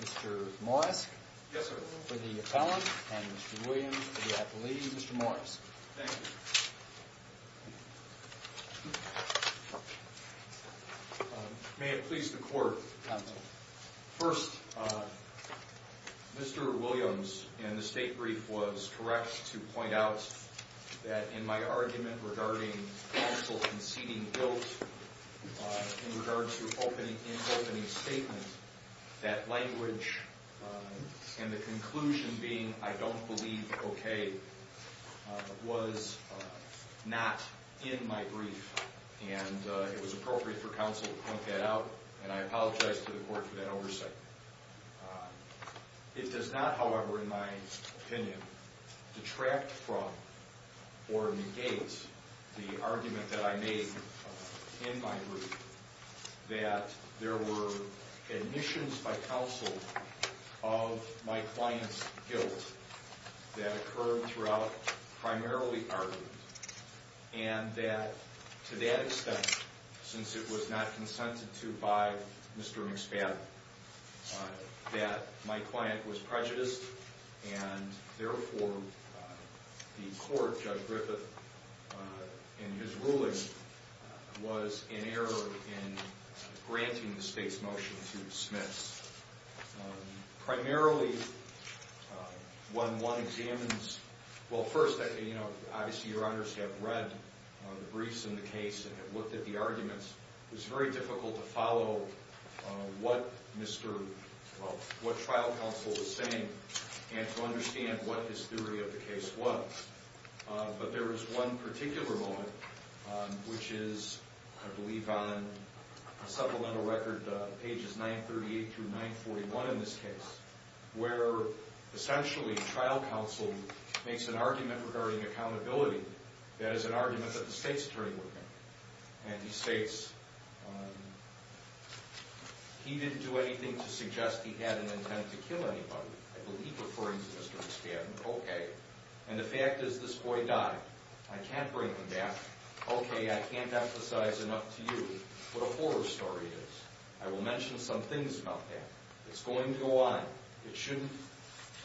Mr. Morris for the appellant and Mr. Williams for the appellee. Mr. Morris, may it please the court, first Mr. Williams in the state brief was correct to point out that in my argument regarding counsel conceding guilt in regards to an opening statement, that language and the conclusion being I don't believe okay was not in my brief and it was appropriate for counsel to point that out and I apologize to the court for that oversight. It does not however in my opinion detract from or negate the argument that I made in my brief that there were admissions by counsel of my client's guilt that occurred throughout primarily our group and that to that extent since it was not consented to by Mr. Mcspadden that my client was prejudiced and therefore the court, Judge Griffith in his ruling was in error in granting the state's motion to dismiss. Primarily when one examines, well first obviously your honors have read the briefs in the case and have looked at the arguments. It was very difficult to follow what trial counsel was saying and to understand what his theory of the case was. But there was one particular moment which is I believe on a supplemental record pages 938-941 in this case where essentially trial counsel makes an argument regarding accountability that is an argument that the state's attorney would make. And he states he didn't do anything to suggest he had an intent to kill anybody. I believe referring to Mr. Mcspadden, okay. And the fact is this boy died. I can't bring him back. Okay I can't emphasize enough to you what a horror story it is. I will mention some things about that. It's going to go on. It shouldn't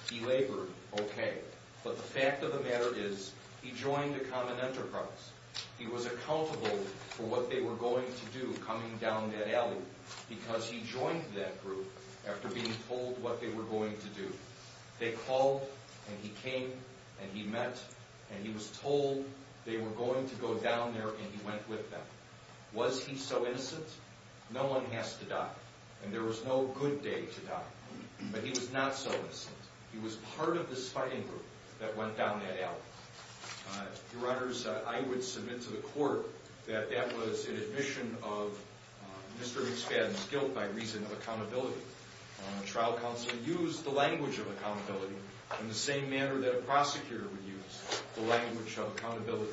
be labored, okay. But the fact of the matter is he joined a common enterprise. He was accountable for what they were going to do coming down that alley because he joined that group after being told what they were going to do. They called and he came and he met and he was told they were going to go down there and he went with them. Was he so innocent? No one has to die. And there was no good day to die. But he was not so guilty that went down that alley. Your Honor, I would submit to the court that that was an admission of Mr. Mcspadden's guilt by reason of accountability. Trial counsel used the language of accountability in the same manner that a prosecutor would use the language of accountability.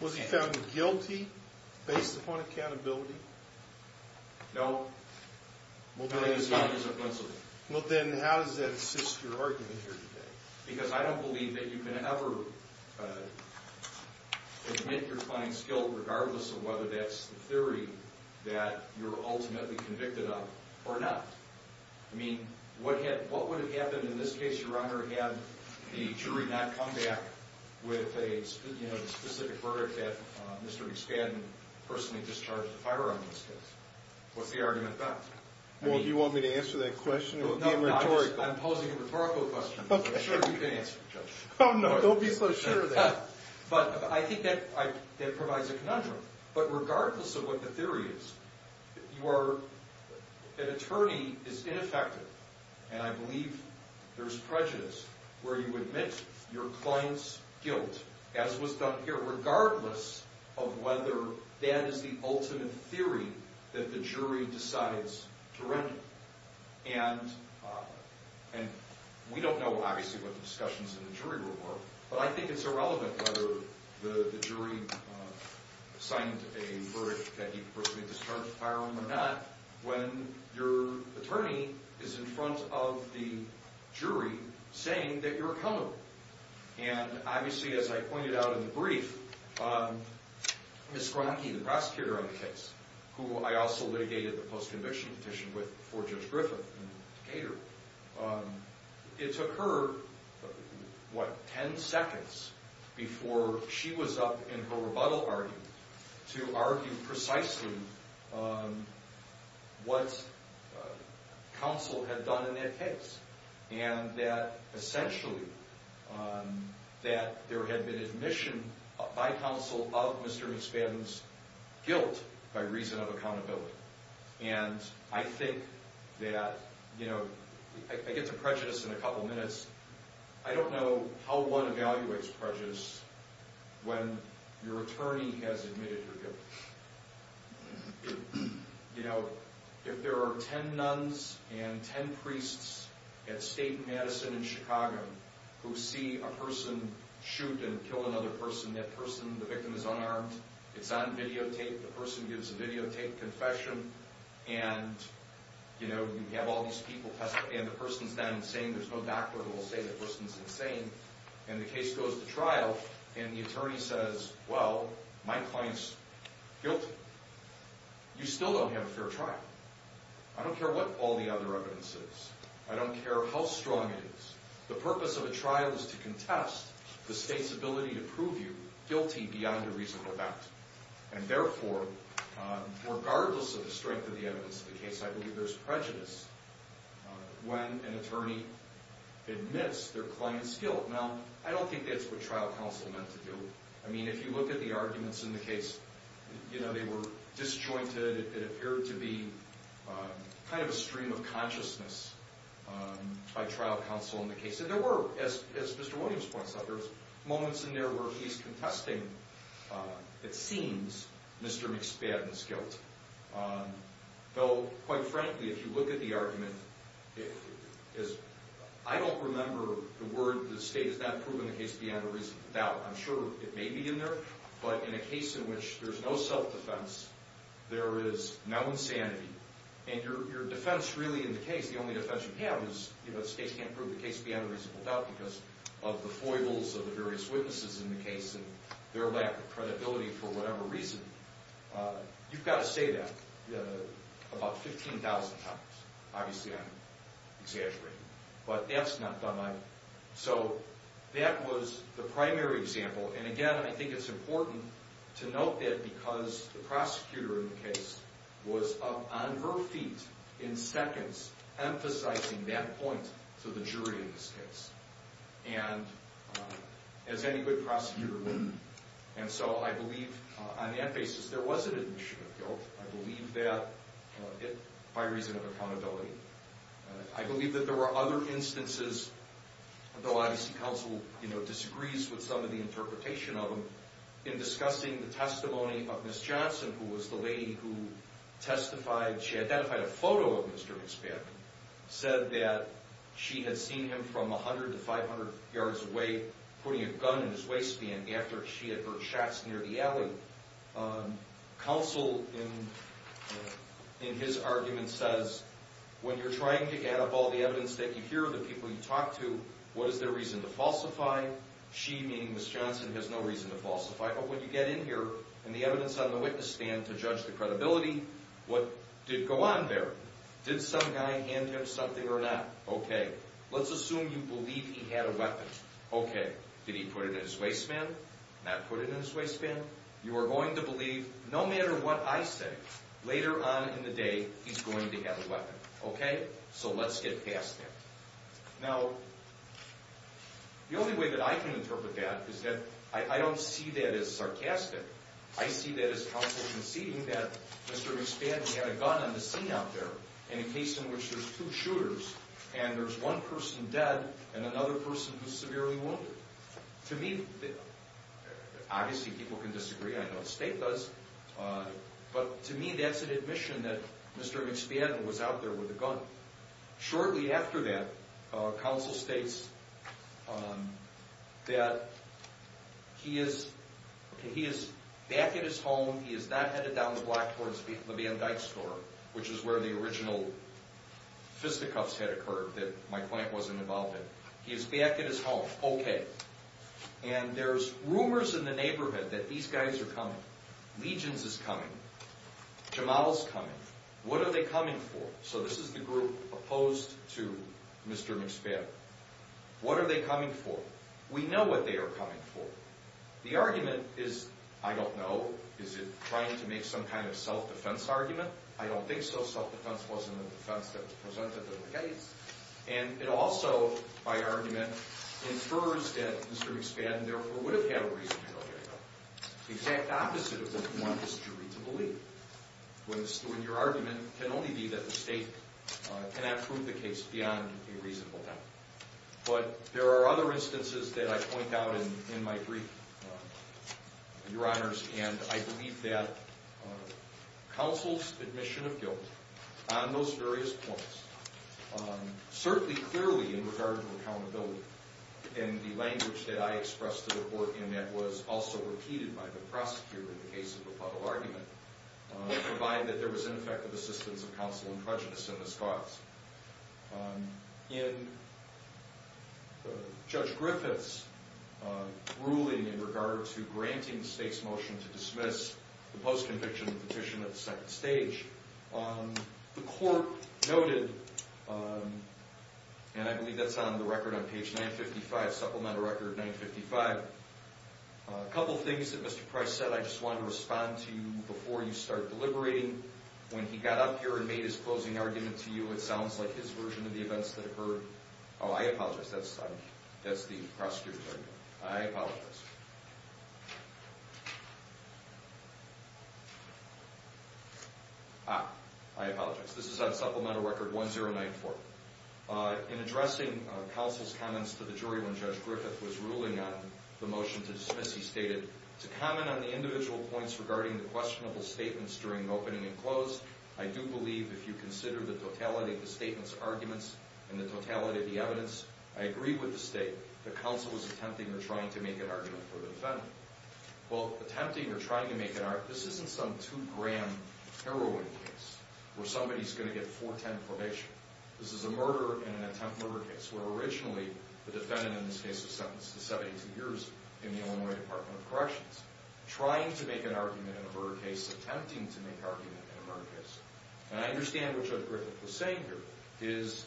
Was he found guilty based upon accountability? No. Well then how does that assist your argument here today? Because I don't believe that you can ever admit your fine skill regardless of whether that's the theory that you're ultimately convicted of or not. I mean what would have happened in this case, Your Honor, had the jury not come back with a specific verdict that Mr. Mcspadden personally discharged the firearm in this case? What's the argument about? Well, do you want me to answer that question? I'm posing a rhetorical question, but I'm sure you can answer it, Judge. Oh no, don't be so sure of that. But I think that provides a conundrum. But regardless of what the theory is, an attorney is ineffective and I believe there's prejudice where you admit your client's guilt as was And we don't know obviously what the discussions in the jury room were, but I think it's irrelevant whether the jury signed a verdict that he personally discharged the firearm or not when your attorney is in front of the jury saying that you're accountable. And obviously as I pointed out in the position before Judge Griffith and Decatur, it took her, what, ten seconds before she was up in her rebuttal argument to argue precisely what counsel had done in that case and that essentially that there had been admission by counsel of Mr. Mcspadden's guilt by reason of accountability. And I think that, you know, I get to prejudice in a couple minutes. I don't know how one evaluates prejudice when your attorney has admitted your guilt. You know, if there are ten nuns and ten priests at State Madison in Chicago who see a person shoot and kill another person, that person, the victim, is And, you know, you have all these people, and the person's not insane. There's no doctor who will say the person's insane. And the case goes to trial and the attorney says, well, my client's guilty. You still don't have a fair trial. I don't care what all the other evidence is. I don't care how strong it is. The purpose of a trial is to contest the state's ability to prove you guilty beyond a reasonable doubt. And therefore, regardless of the strength of the evidence of the case, I believe there's prejudice when an attorney admits their client's guilt. Now, I don't think that's what trial counsel meant to do. I mean, if you look at the arguments in the case, you know, they were disjointed. It appeared to be kind of a stream of consciousness by trial counsel in the case. And there were, as Mr. Williams points out, there were moments in there where he's contesting, it seems, Mr. McSpadden's guilt. Though, quite frankly, if you look at the argument, I don't remember the word, the state has not proven the case beyond a reasonable doubt. I'm sure it may be in there, but in a case in which there's no self-defense, there is no insanity, and your defense really in the case, the only defense you have is the state can't prove the case beyond a reasonable doubt because of the foibles of the various witnesses in the case and their lack of credibility for whatever reason. You've got to say that about 15,000 times. Obviously, I'm exaggerating, but that's not done either. So that was the primary example, and again, I think it's important to note that because the prosecutor in the case was up on her feet in seconds emphasizing that point to the jury in this case, and as any good prosecutor would. And so I believe on that basis, there was an admission of guilt. I believe that by reason of accountability. I believe that there were other instances, though obviously counsel disagrees with some of the interpretation of them, in discussing the testimony of Miss Johnson, who was the lady who testified. She identified a photo of Mr. McSpadden, said that she had seen him from 100 to 500 yards away putting a gun in his waistband after she had heard shots near the alley. Counsel in his argument says, when you're trying to add up all the evidence that you hear of the people you talk to, what is their reason to falsify? She, meaning Miss Johnson, has no reason to falsify. But when you get in here, and the evidence on the witness stand to judge the credibility, what did go on there? Did some guy hand him something or not? Okay. Let's assume you believe he had a weapon. Okay. Did he put it in his waistband? Not put it in his waistband? You are going to believe, no matter what I say, later on in the day, he's going to have a weapon. Okay? So let's get past that. Now, the only way that I can interpret that is that I don't see that as sarcastic. I see that as counsel conceding that Mr. McSpadden had a gun on the scene out there, in a case in which there's two shooters, and there's one person dead and another person who's severely wounded. To me, obviously people can disagree. I know the state does. But to me, that's an admission that Mr. McSpadden was out there with a gun. Shortly after that, counsel states that he is back at his home. He is not headed down the block towards the Van Dyke store, which is where the original fisticuffs had occurred that my client wasn't involved in. He is back at his home. Okay. And there's rumors in the neighborhood that these guys are coming. Legions is coming. Jamaal is coming. What are they coming for? So this is the group opposed to Mr. McSpadden. What are they coming for? We know what they are coming for. The argument is, I don't know, is it trying to make some kind of self-defense argument? I don't think so. Self-defense wasn't the defense that was presented in the case. And it also, by argument, infers that Mr. McSpadden, therefore, would have had a reason to go get help. The exact opposite of what you want this jury to believe, when your argument can only be that the state cannot prove the case beyond a reasonable doubt. But there are other instances that I point out in my brief, Your Honors, and I believe that counsel's admission of guilt on those various points, certainly clearly in regard to accountability and the language that I expressed to the court and that was also repeated by the prosecutor in the case of the Puddle argument, provided that there was ineffective assistance of counsel and prejudice in this cause. In Judge Griffith's ruling in regard to granting the state's motion to dismiss the post-conviction petition at the second stage, the court noted, and I believe that's on the record on page 955, Supplemental Record 955, a couple things that Mr. Price said I just wanted to respond to before you start deliberating. When he got up here and made his closing argument to you, it sounds like his version of the events that occurred. Oh, I apologize. That's the prosecutor's argument. I apologize. Ah, I apologize. This is on Supplemental Record 1094. In addressing counsel's comments to the jury when Judge Griffith was ruling on the motion to dismiss, he stated, to comment on the individual points regarding the questionable statements during the opening and close, I do believe if you consider the totality of the statement's arguments and the totality of the evidence, I agree with the state that counsel was attempting or trying to make an argument. Well, attempting or trying to make an argument, this isn't some two-gram heroin case where somebody's going to get 410 probation. This is a murder in an attempt murder case where originally the defendant in this case was sentenced to 72 years in the Illinois Department of Corrections, trying to make an argument in a murder case, attempting to make an argument in a murder case. And I understand what Judge Griffith was saying here is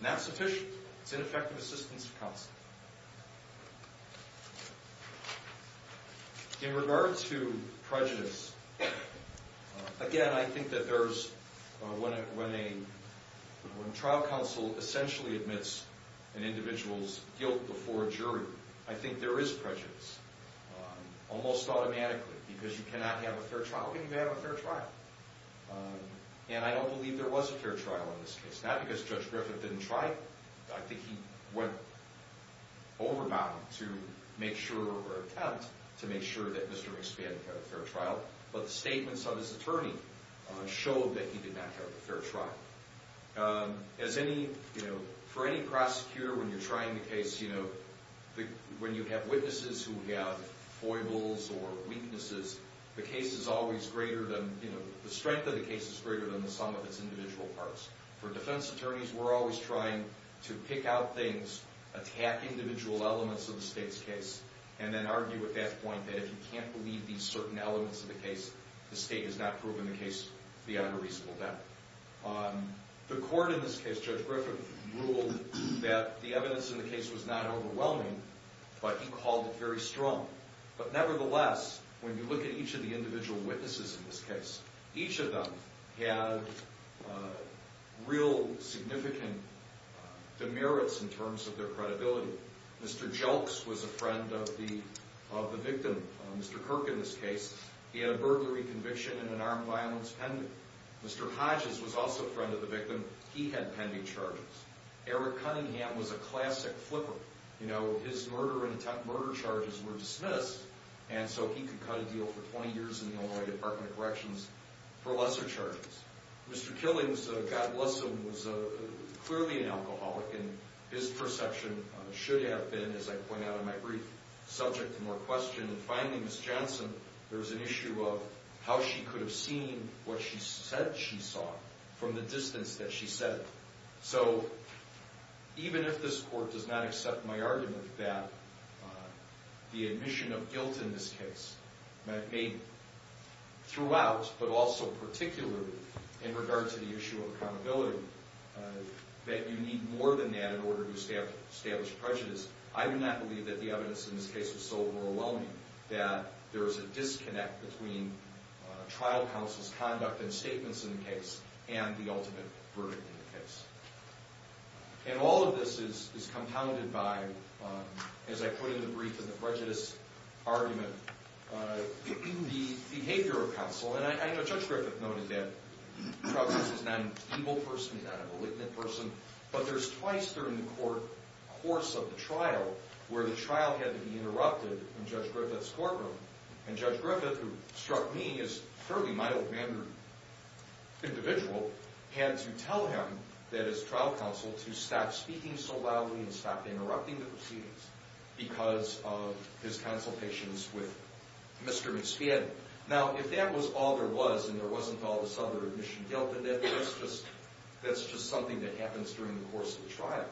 not sufficient. It's ineffective assistance to counsel. In regard to prejudice, again, I think that there's when a trial counsel essentially admits an individual's guilt before a jury, I think there is prejudice almost automatically because you cannot have a fair trial when you have a fair trial. And I don't believe there was a fair trial in this case, not because Judge Griffith didn't try. I think he went overbound to make sure or attempt to make sure that Mr. Wingspan had a fair trial, but the statements of his attorney showed that he did not have a fair trial. As any, you know, for any prosecutor when you're trying a case, you know, when you have witnesses who have foibles or weaknesses, the case is always greater than, you know, the strength of the case is greater than the sum of its individual parts. For defense attorneys, we're always trying to pick out things, attack individual elements of the state's case, and then argue at that point that if you can't believe these certain elements of the case, the state has not proven the case beyond a reasonable doubt. The court in this case, Judge Griffith, ruled that the evidence in the case was not overwhelming, but he called it very strong. But nevertheless, when you look at each of the individual witnesses in this case, each of them had real significant demerits in terms of their credibility. Mr. Jelks was a friend of the victim, Mr. Kirk, in this case. He had a burglary conviction and an armed violence pending. Mr. Hodges was also a friend of the victim. He had pending charges. Eric Cunningham was a classic flipper. You know, his murder charges were dismissed, and so he could cut a deal for 20 years in the Illinois Department of Corrections for lesser charges. Mr. Killings, God bless him, was clearly an alcoholic, and his perception should have been, as I point out in my brief subject to more questions. And finally, Ms. Johnson, there was an issue of how she could have seen what she said she saw from the distance that she said it. So even if this court does not accept my argument that the admission of guilt in this case may throughout, but also particularly in regard to the issue of accountability, that you need more than that in order to establish prejudice, I would not believe that the evidence in this case was so overwhelming that there was a disconnect between trial counsel's conduct and statements in the case and the ultimate verdict in the case. And all of this is compounded by, as I put in the brief in the prejudice argument, the behavior of counsel. And I know Judge Griffith noted that Troubles is not an evil person, he's not a malignant person, but there's twice during the course of the trial where the trial had to be interrupted in Judge Griffith's courtroom. And Judge Griffith, who struck me as a fairly mild-mannered individual, had to tell him, that as trial counsel, to stop speaking so loudly and stop interrupting the proceedings because of his consultations with Mr. Insfied. Now, if that was all there was and there wasn't all this other admission guilt, then that's just something that happens during the course of the trial.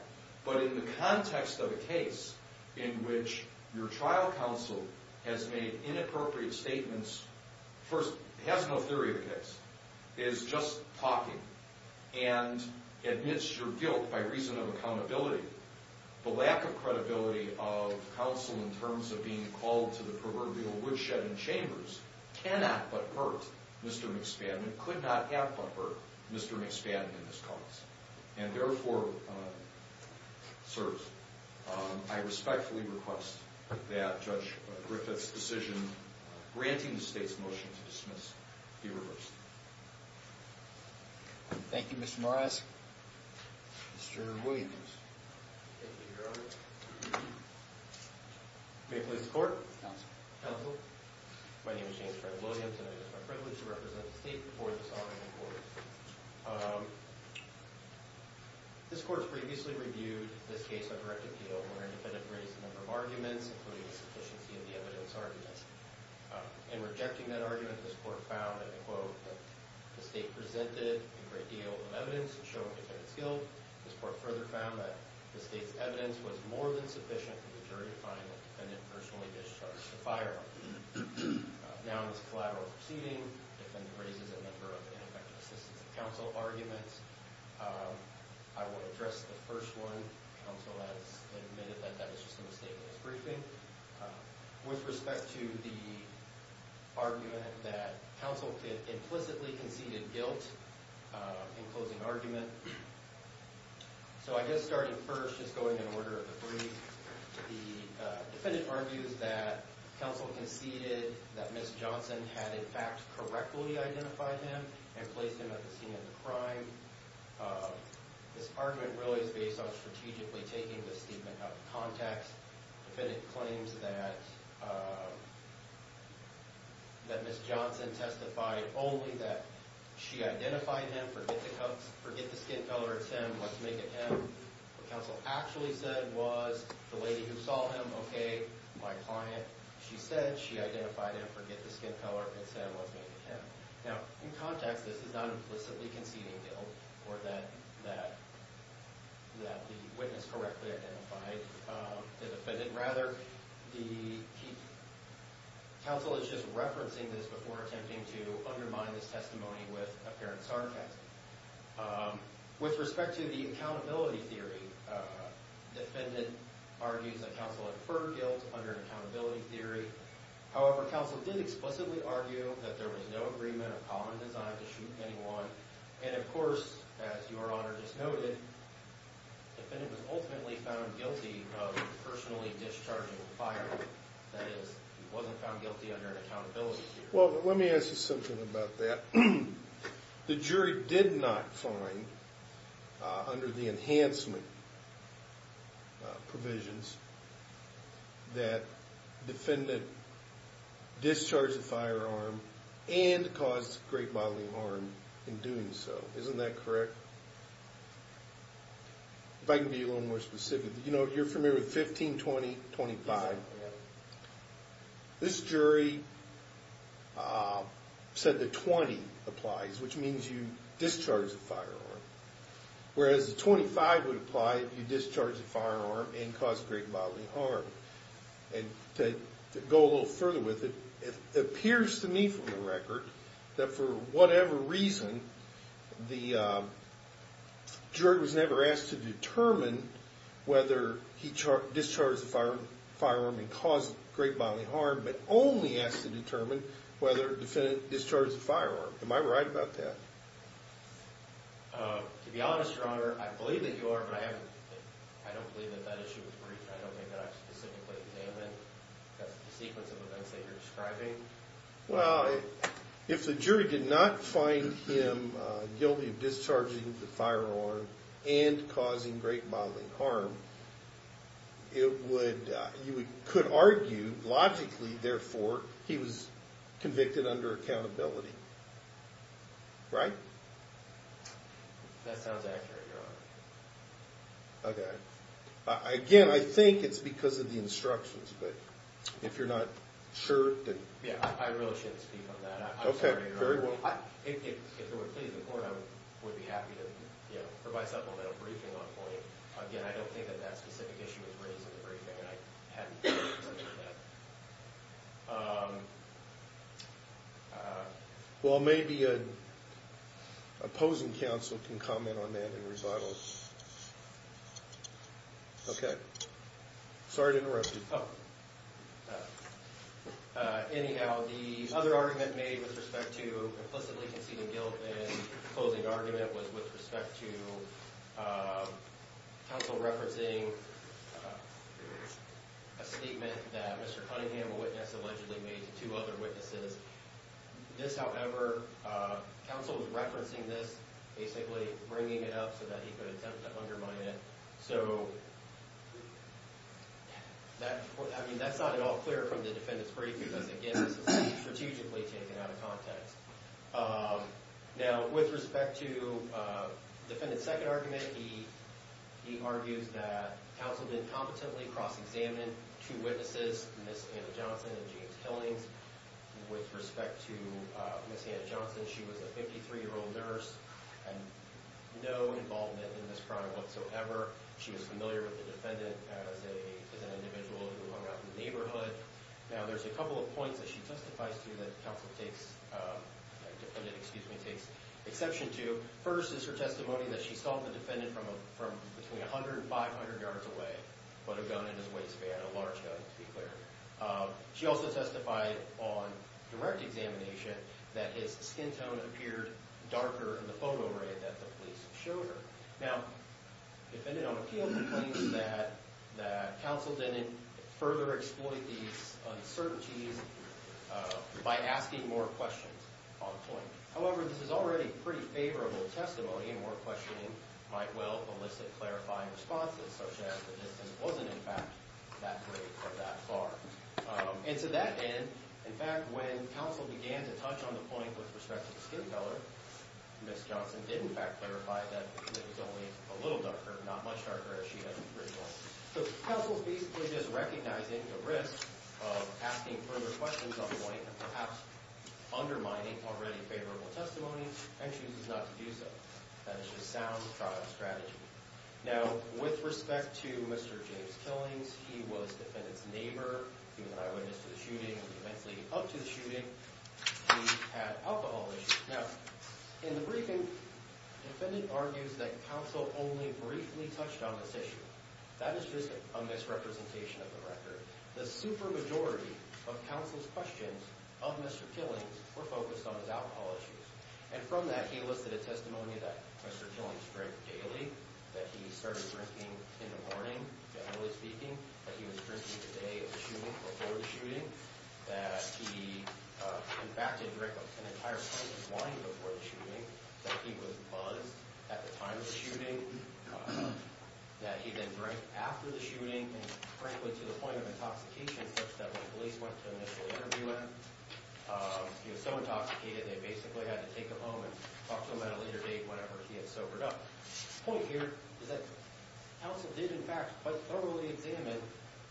But in the context of a case in which your trial counsel has made inappropriate statements, first, has no theory of the case, is just talking, and admits your guilt by reason of accountability. The lack of credibility of counsel in terms of being called to the proverbial woodshed and chambers cannot but hurt Mr. McSpadden and could not have but hurt Mr. McSpadden in his calls. And therefore, sirs, I respectfully request that Judge Griffith's decision granting the state's motion to dismiss be reversed. Thank you, Mr. Morris. Mr. Williams. Thank you, Your Honor. May it please the Court. Counsel. Counsel. My name is James Fred Williams, and it is my privilege to represent the state before this argument in court. This Court has previously reviewed this case on direct appeal where an independent raised a number of arguments, including the sufficiency of the evidence arguments. In rejecting that argument, this Court found, and I quote, that the state presented a great deal of evidence in showing the defendant's guilt. This Court further found that the state's evidence was more than sufficient for the jury to find the defendant personally discharged to fire. Now in this collateral proceeding, the defendant raises a number of ineffective assistance of counsel arguments. I will address the first one. Counsel has admitted that that was just a mistake in his briefing. With respect to the argument that counsel implicitly conceded guilt in closing argument. So I guess starting first, just going in order of the brief. The defendant argues that counsel conceded that Ms. Johnson had in fact correctly identified him and placed him at the scene of the crime. This argument really is based on strategically taking this statement out of context. The defendant claims that Ms. Johnson testified only that she identified him, forget the skin color, it's him, let's make it him. What counsel actually said was the lady who saw him, okay, my client, she said, she identified him, forget the skin color, it's him, let's make it him. Now in context, this is not implicitly conceding guilt or that the witness correctly identified the defendant. Rather, the counsel is just referencing this before attempting to undermine this testimony with apparent sarcasm. With respect to the accountability theory, defendant argues that counsel inferred guilt under accountability theory. However, counsel did explicitly argue that there was no agreement of common design to shoot anyone. And of course, as your honor just noted, defendant was ultimately found guilty of personally discharging the fire. That is, he wasn't found guilty under an accountability theory. Well, let me ask you something about that. The jury did not find under the enhancement provisions that defendant discharged the firearm and caused great bodily harm in doing so. Isn't that correct? If I can be a little more specific. You know, you're familiar with 15, 20, 25. This jury said the 20 applies, which means you discharge the firearm. Whereas the 25 would apply if you discharged the firearm and caused great bodily harm. To go a little further with it, it appears to me from the record that for whatever reason, the jury was never asked to determine whether he discharged the firearm and caused great bodily harm, but only asked to determine whether the defendant discharged the firearm. Am I right about that? To be honest, your honor, I believe that you are, but I don't believe that that issue was briefed. I don't think that I specifically examined the sequence of events that you're describing. Well, if the jury did not find him guilty of discharging the firearm and causing great bodily harm, you could argue logically, therefore, he was convicted under accountability. Right? That sounds accurate, your honor. Okay. Again, I think it's because of the instructions, but if you're not sure... Yeah, I really shouldn't speak on that. I'm sorry, your honor. Okay, very well. If it would please the court, I would be happy to provide supplemental briefing on the point. Again, I don't think that that specific issue was raised in the briefing, and I hadn't considered that. Well, maybe an opposing counsel can comment on that in rebuttal. Okay. Sorry to interrupt you. Anyhow, the other argument made with respect to implicitly conceding guilt and opposing argument was with respect to counsel referencing a statement that Mr. Cunningham, a witness, allegedly made to two other witnesses. This, however, counsel was referencing this, basically bringing it up so that he could attempt to undermine it. So, I mean, that's not at all clear from the defendant's briefing, because, again, this is strategically taken out of context. Now, with respect to defendant's second argument, he argues that counsel did competently cross-examine two witnesses, Ms. Hannah-Johnson and James Killings. With respect to Ms. Hannah-Johnson, she was a 53-year-old nurse and no involvement in this crime whatsoever. She was familiar with the defendant as an individual who hung out in the neighborhood. Now, there's a couple of points that she testifies to that counsel takes—defendant, excuse me, takes exception to. First is her testimony that she saw the defendant from between 100 and 500 yards away with a gun in his waistband, a large gun, to be clear. She also testified on direct examination that his skin tone appeared darker in the photo array that the police showed her. Now, defendant on appeal complains that counsel didn't further exploit these uncertainties by asking more questions on point. However, this is already pretty favorable testimony, and more questioning might well elicit clarifying responses, such as the distance wasn't, in fact, that great or that far. And to that end, in fact, when counsel began to touch on the point with respect to the skin color, Ms. Johnson did, in fact, clarify that it was only a little darker, not much darker, as she had originally. So counsel's basically just recognizing the risk of asking further questions on point and perhaps undermining already favorable testimony and chooses not to do so. That is just sound trial strategy. Now, with respect to Mr. James Killings, he was defendant's neighbor, he was an eyewitness to the shooting, he was immensely up to the shooting, he had alcohol issues. Now, in the briefing, defendant argues that counsel only briefly touched on this issue. That is just a misrepresentation of the record. The super majority of counsel's questions of Mr. Killings were focused on his alcohol issues. And from that, he listed a testimony that Mr. Killings drank daily, that he started drinking in the morning, generally speaking, that he was drinking the day of the shooting, before the shooting, that he, in fact, did drink an entire pint of wine before the shooting, that he was buzzed at the time of the shooting, that he then drank after the shooting, and frankly, to the point of intoxication such that when police went to initially interview him, he was so intoxicated they basically had to take him home and talk to him at a later date whenever he had sobered up. The point here is that counsel did, in fact, quite thoroughly examine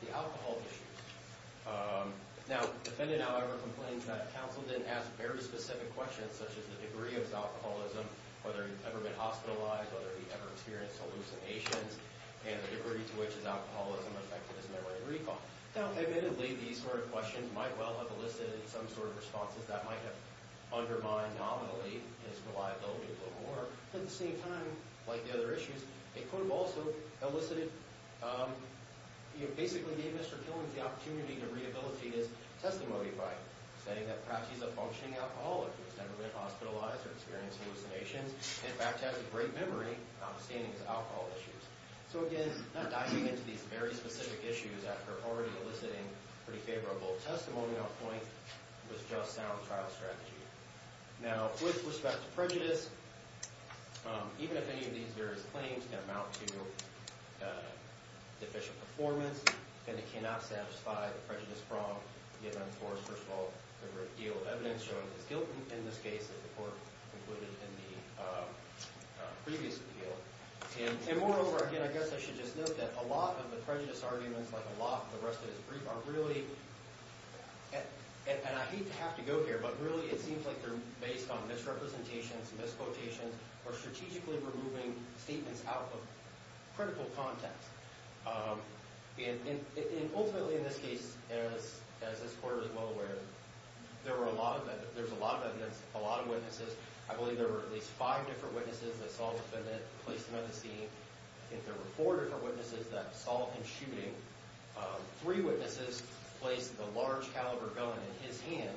the alcohol issues. Now, defendant, however, complains that counsel didn't ask very specific questions, such as the degree of his alcoholism, whether he'd ever been hospitalized, whether he'd ever experienced hallucinations, and the degree to which his alcoholism affected his memory and recall. Now, admittedly, these sort of questions might well have elicited some sort of responses that might have undermined, nominally, his reliability a little more, but at the same time, like the other issues, they could have also elicited, you know, basically gave Mr. Killings the opportunity to rehabilitate his testimony by saying that perhaps he's a functioning alcoholic who's never been hospitalized or experienced hallucinations, and, in fact, has a great memory standing his alcohol issues. So, again, not diving into these very specific issues after already eliciting pretty favorable testimony, was just sound trial strategy. Now, with respect to prejudice, even if any of these various claims can amount to deficient performance, then it cannot satisfy the prejudice from the eventors. First of all, there were a deal of evidence showing he's guilty in this case, as the court concluded in the previous appeal. And, moreover, again, I guess I should just note that a lot of the prejudice arguments, like a lot of the rest of his brief, are really, and I hate to have to go here, but really it seems like they're based on misrepresentations, misquotations, or strategically removing statements out of critical context. And, ultimately, in this case, as this court is well aware, there were a lot of, there's a lot of evidence, a lot of witnesses. I believe there were at least five different witnesses that saw the defendant, placed him at the scene. I think there were four different witnesses that saw him shooting. Three witnesses placed the large caliber gun in his hand.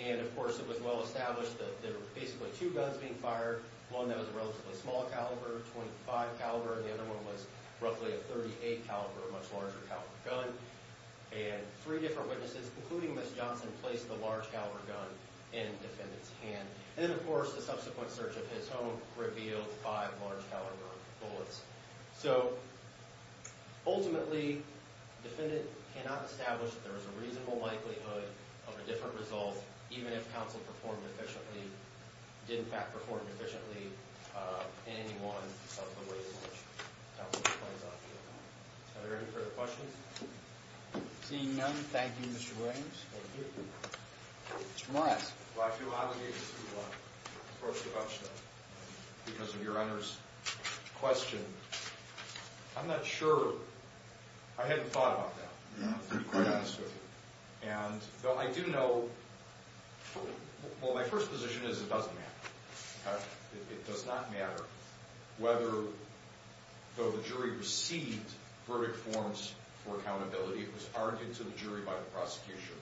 And, of course, it was well established that there were basically two guns being fired, one that was a relatively small caliber, .25 caliber, and the other one was roughly a .38 caliber, a much larger caliber gun. And three different witnesses, including Ms. Johnson, placed the large caliber gun in the defendant's hand. And then, of course, the subsequent search of his home revealed five large caliber bullets. So, ultimately, the defendant cannot establish that there was a reasonable likelihood of a different result, even if counsel performed efficiently, did, in fact, perform efficiently in any one of the ways in which counsel plays off the event. Are there any further questions? Seeing none, thank you, Mr. Williams. Thank you. Mr. Morris. Well, I feel honored to approach the bench, though, because of Your Honor's question. I'm not sure. I hadn't thought about that, to be quite honest with you. And, though I do know, well, my first position is it doesn't matter. It does not matter whether, though the jury received verdict forms for accountability, it was argued to the jury by the prosecution.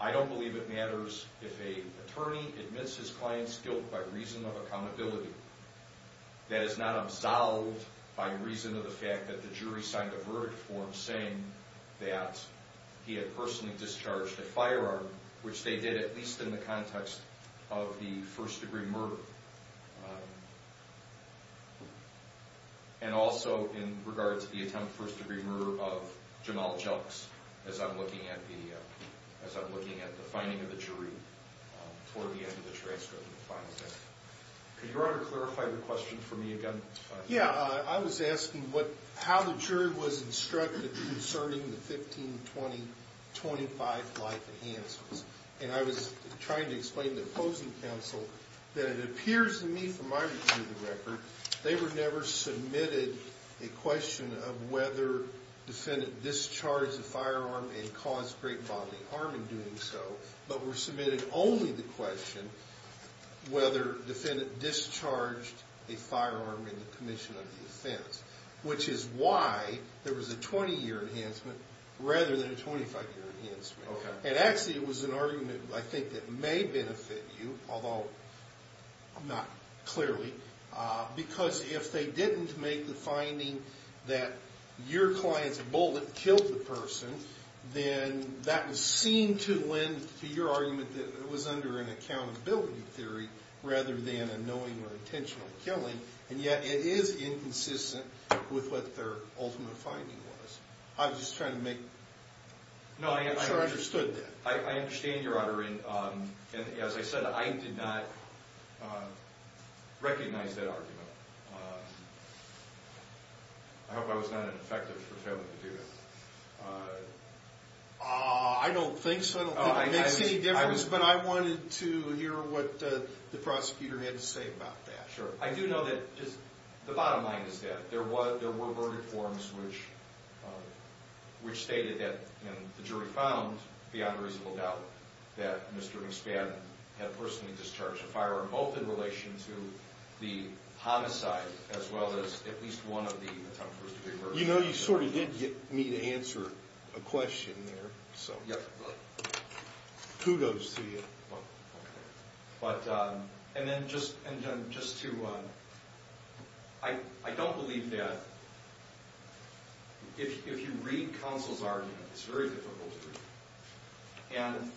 I don't believe it matters if an attorney admits his client's guilt by reason of accountability. That is not absolved by reason of the fact that the jury signed a verdict form saying that he had personally discharged a firearm, which they did, at least in the context of the first-degree murder. And also in regards to the attempt for a first-degree murder of Jamal Jelks, as I'm looking at the finding of the jury toward the end of the transcript. Could Your Honor clarify the question for me again? Yeah. I was asking how the jury was instructed concerning the 15, 20, 25 life enhancements. And I was trying to explain to the opposing counsel that it appears to me, from my review of the record, they were never submitted a question of whether defendant discharged a firearm and caused great bodily harm in doing so, but were submitted only the question whether defendant discharged a firearm in the commission of the offense, which is why there was a 20-year enhancement rather than a 25-year enhancement. Okay. And actually it was an argument, I think, that may benefit you, although not clearly, because if they didn't make the finding that your client's bullet killed the person, then that would seem to lend to your argument that it was under an accountability theory rather than a knowing or intentional killing, and yet it is inconsistent with what their ultimate finding was. I was just trying to make sure I understood that. I understand, Your Honor, and as I said, I did not recognize that argument. I hope I was not ineffective for failing to do that. I don't think so. I don't think it makes any difference, but I wanted to hear what the prosecutor had to say about that. Sure. I do know that the bottom line is that there were verdict forms which stated that, and the jury found beyond reasonable doubt, that Mr. McSpadden had personally discharged a firearm, both in relation to the homicide as well as at least one of the attempted murders. You know, you sort of did get me to answer a question there. Yep. Kudos to you. But, and then just to, I don't believe that if you read counsel's argument, it's very difficult to read, and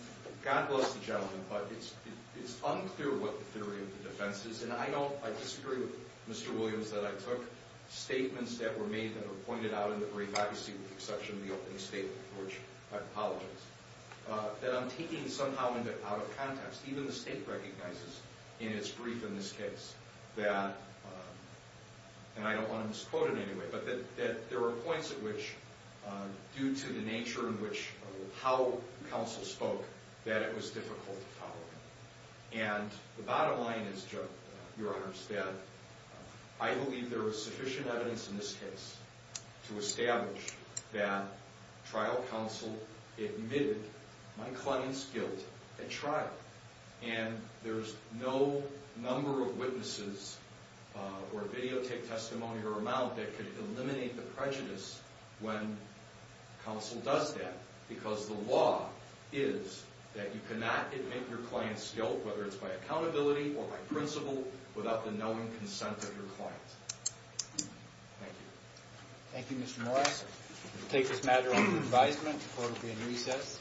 God bless the gentleman, but it's unclear what the theory of the defense is, and I don't, I disagree with Mr. Williams that I took statements that were made that were pointed out in the brief, obviously with the exception of the opening statement, for which I apologize, that I'm taking somehow out of context. Even the state recognizes in its brief in this case that, and I don't want to misquote it anyway, but that there were points at which, due to the nature in which, how counsel spoke, that it was difficult to follow. And the bottom line is, Your Honors, that I believe there was sufficient evidence in this case to establish that trial counsel admitted my client's guilt at trial. And there's no number of witnesses or videotape testimony or amount that could eliminate the prejudice when counsel does that, because the law is that you cannot admit your client's guilt, whether it's by accountability or by principle, without the knowing consent of your client. Thank you. Thank you, Mr. Morris. We'll take this matter under advisement. Court will be in recess.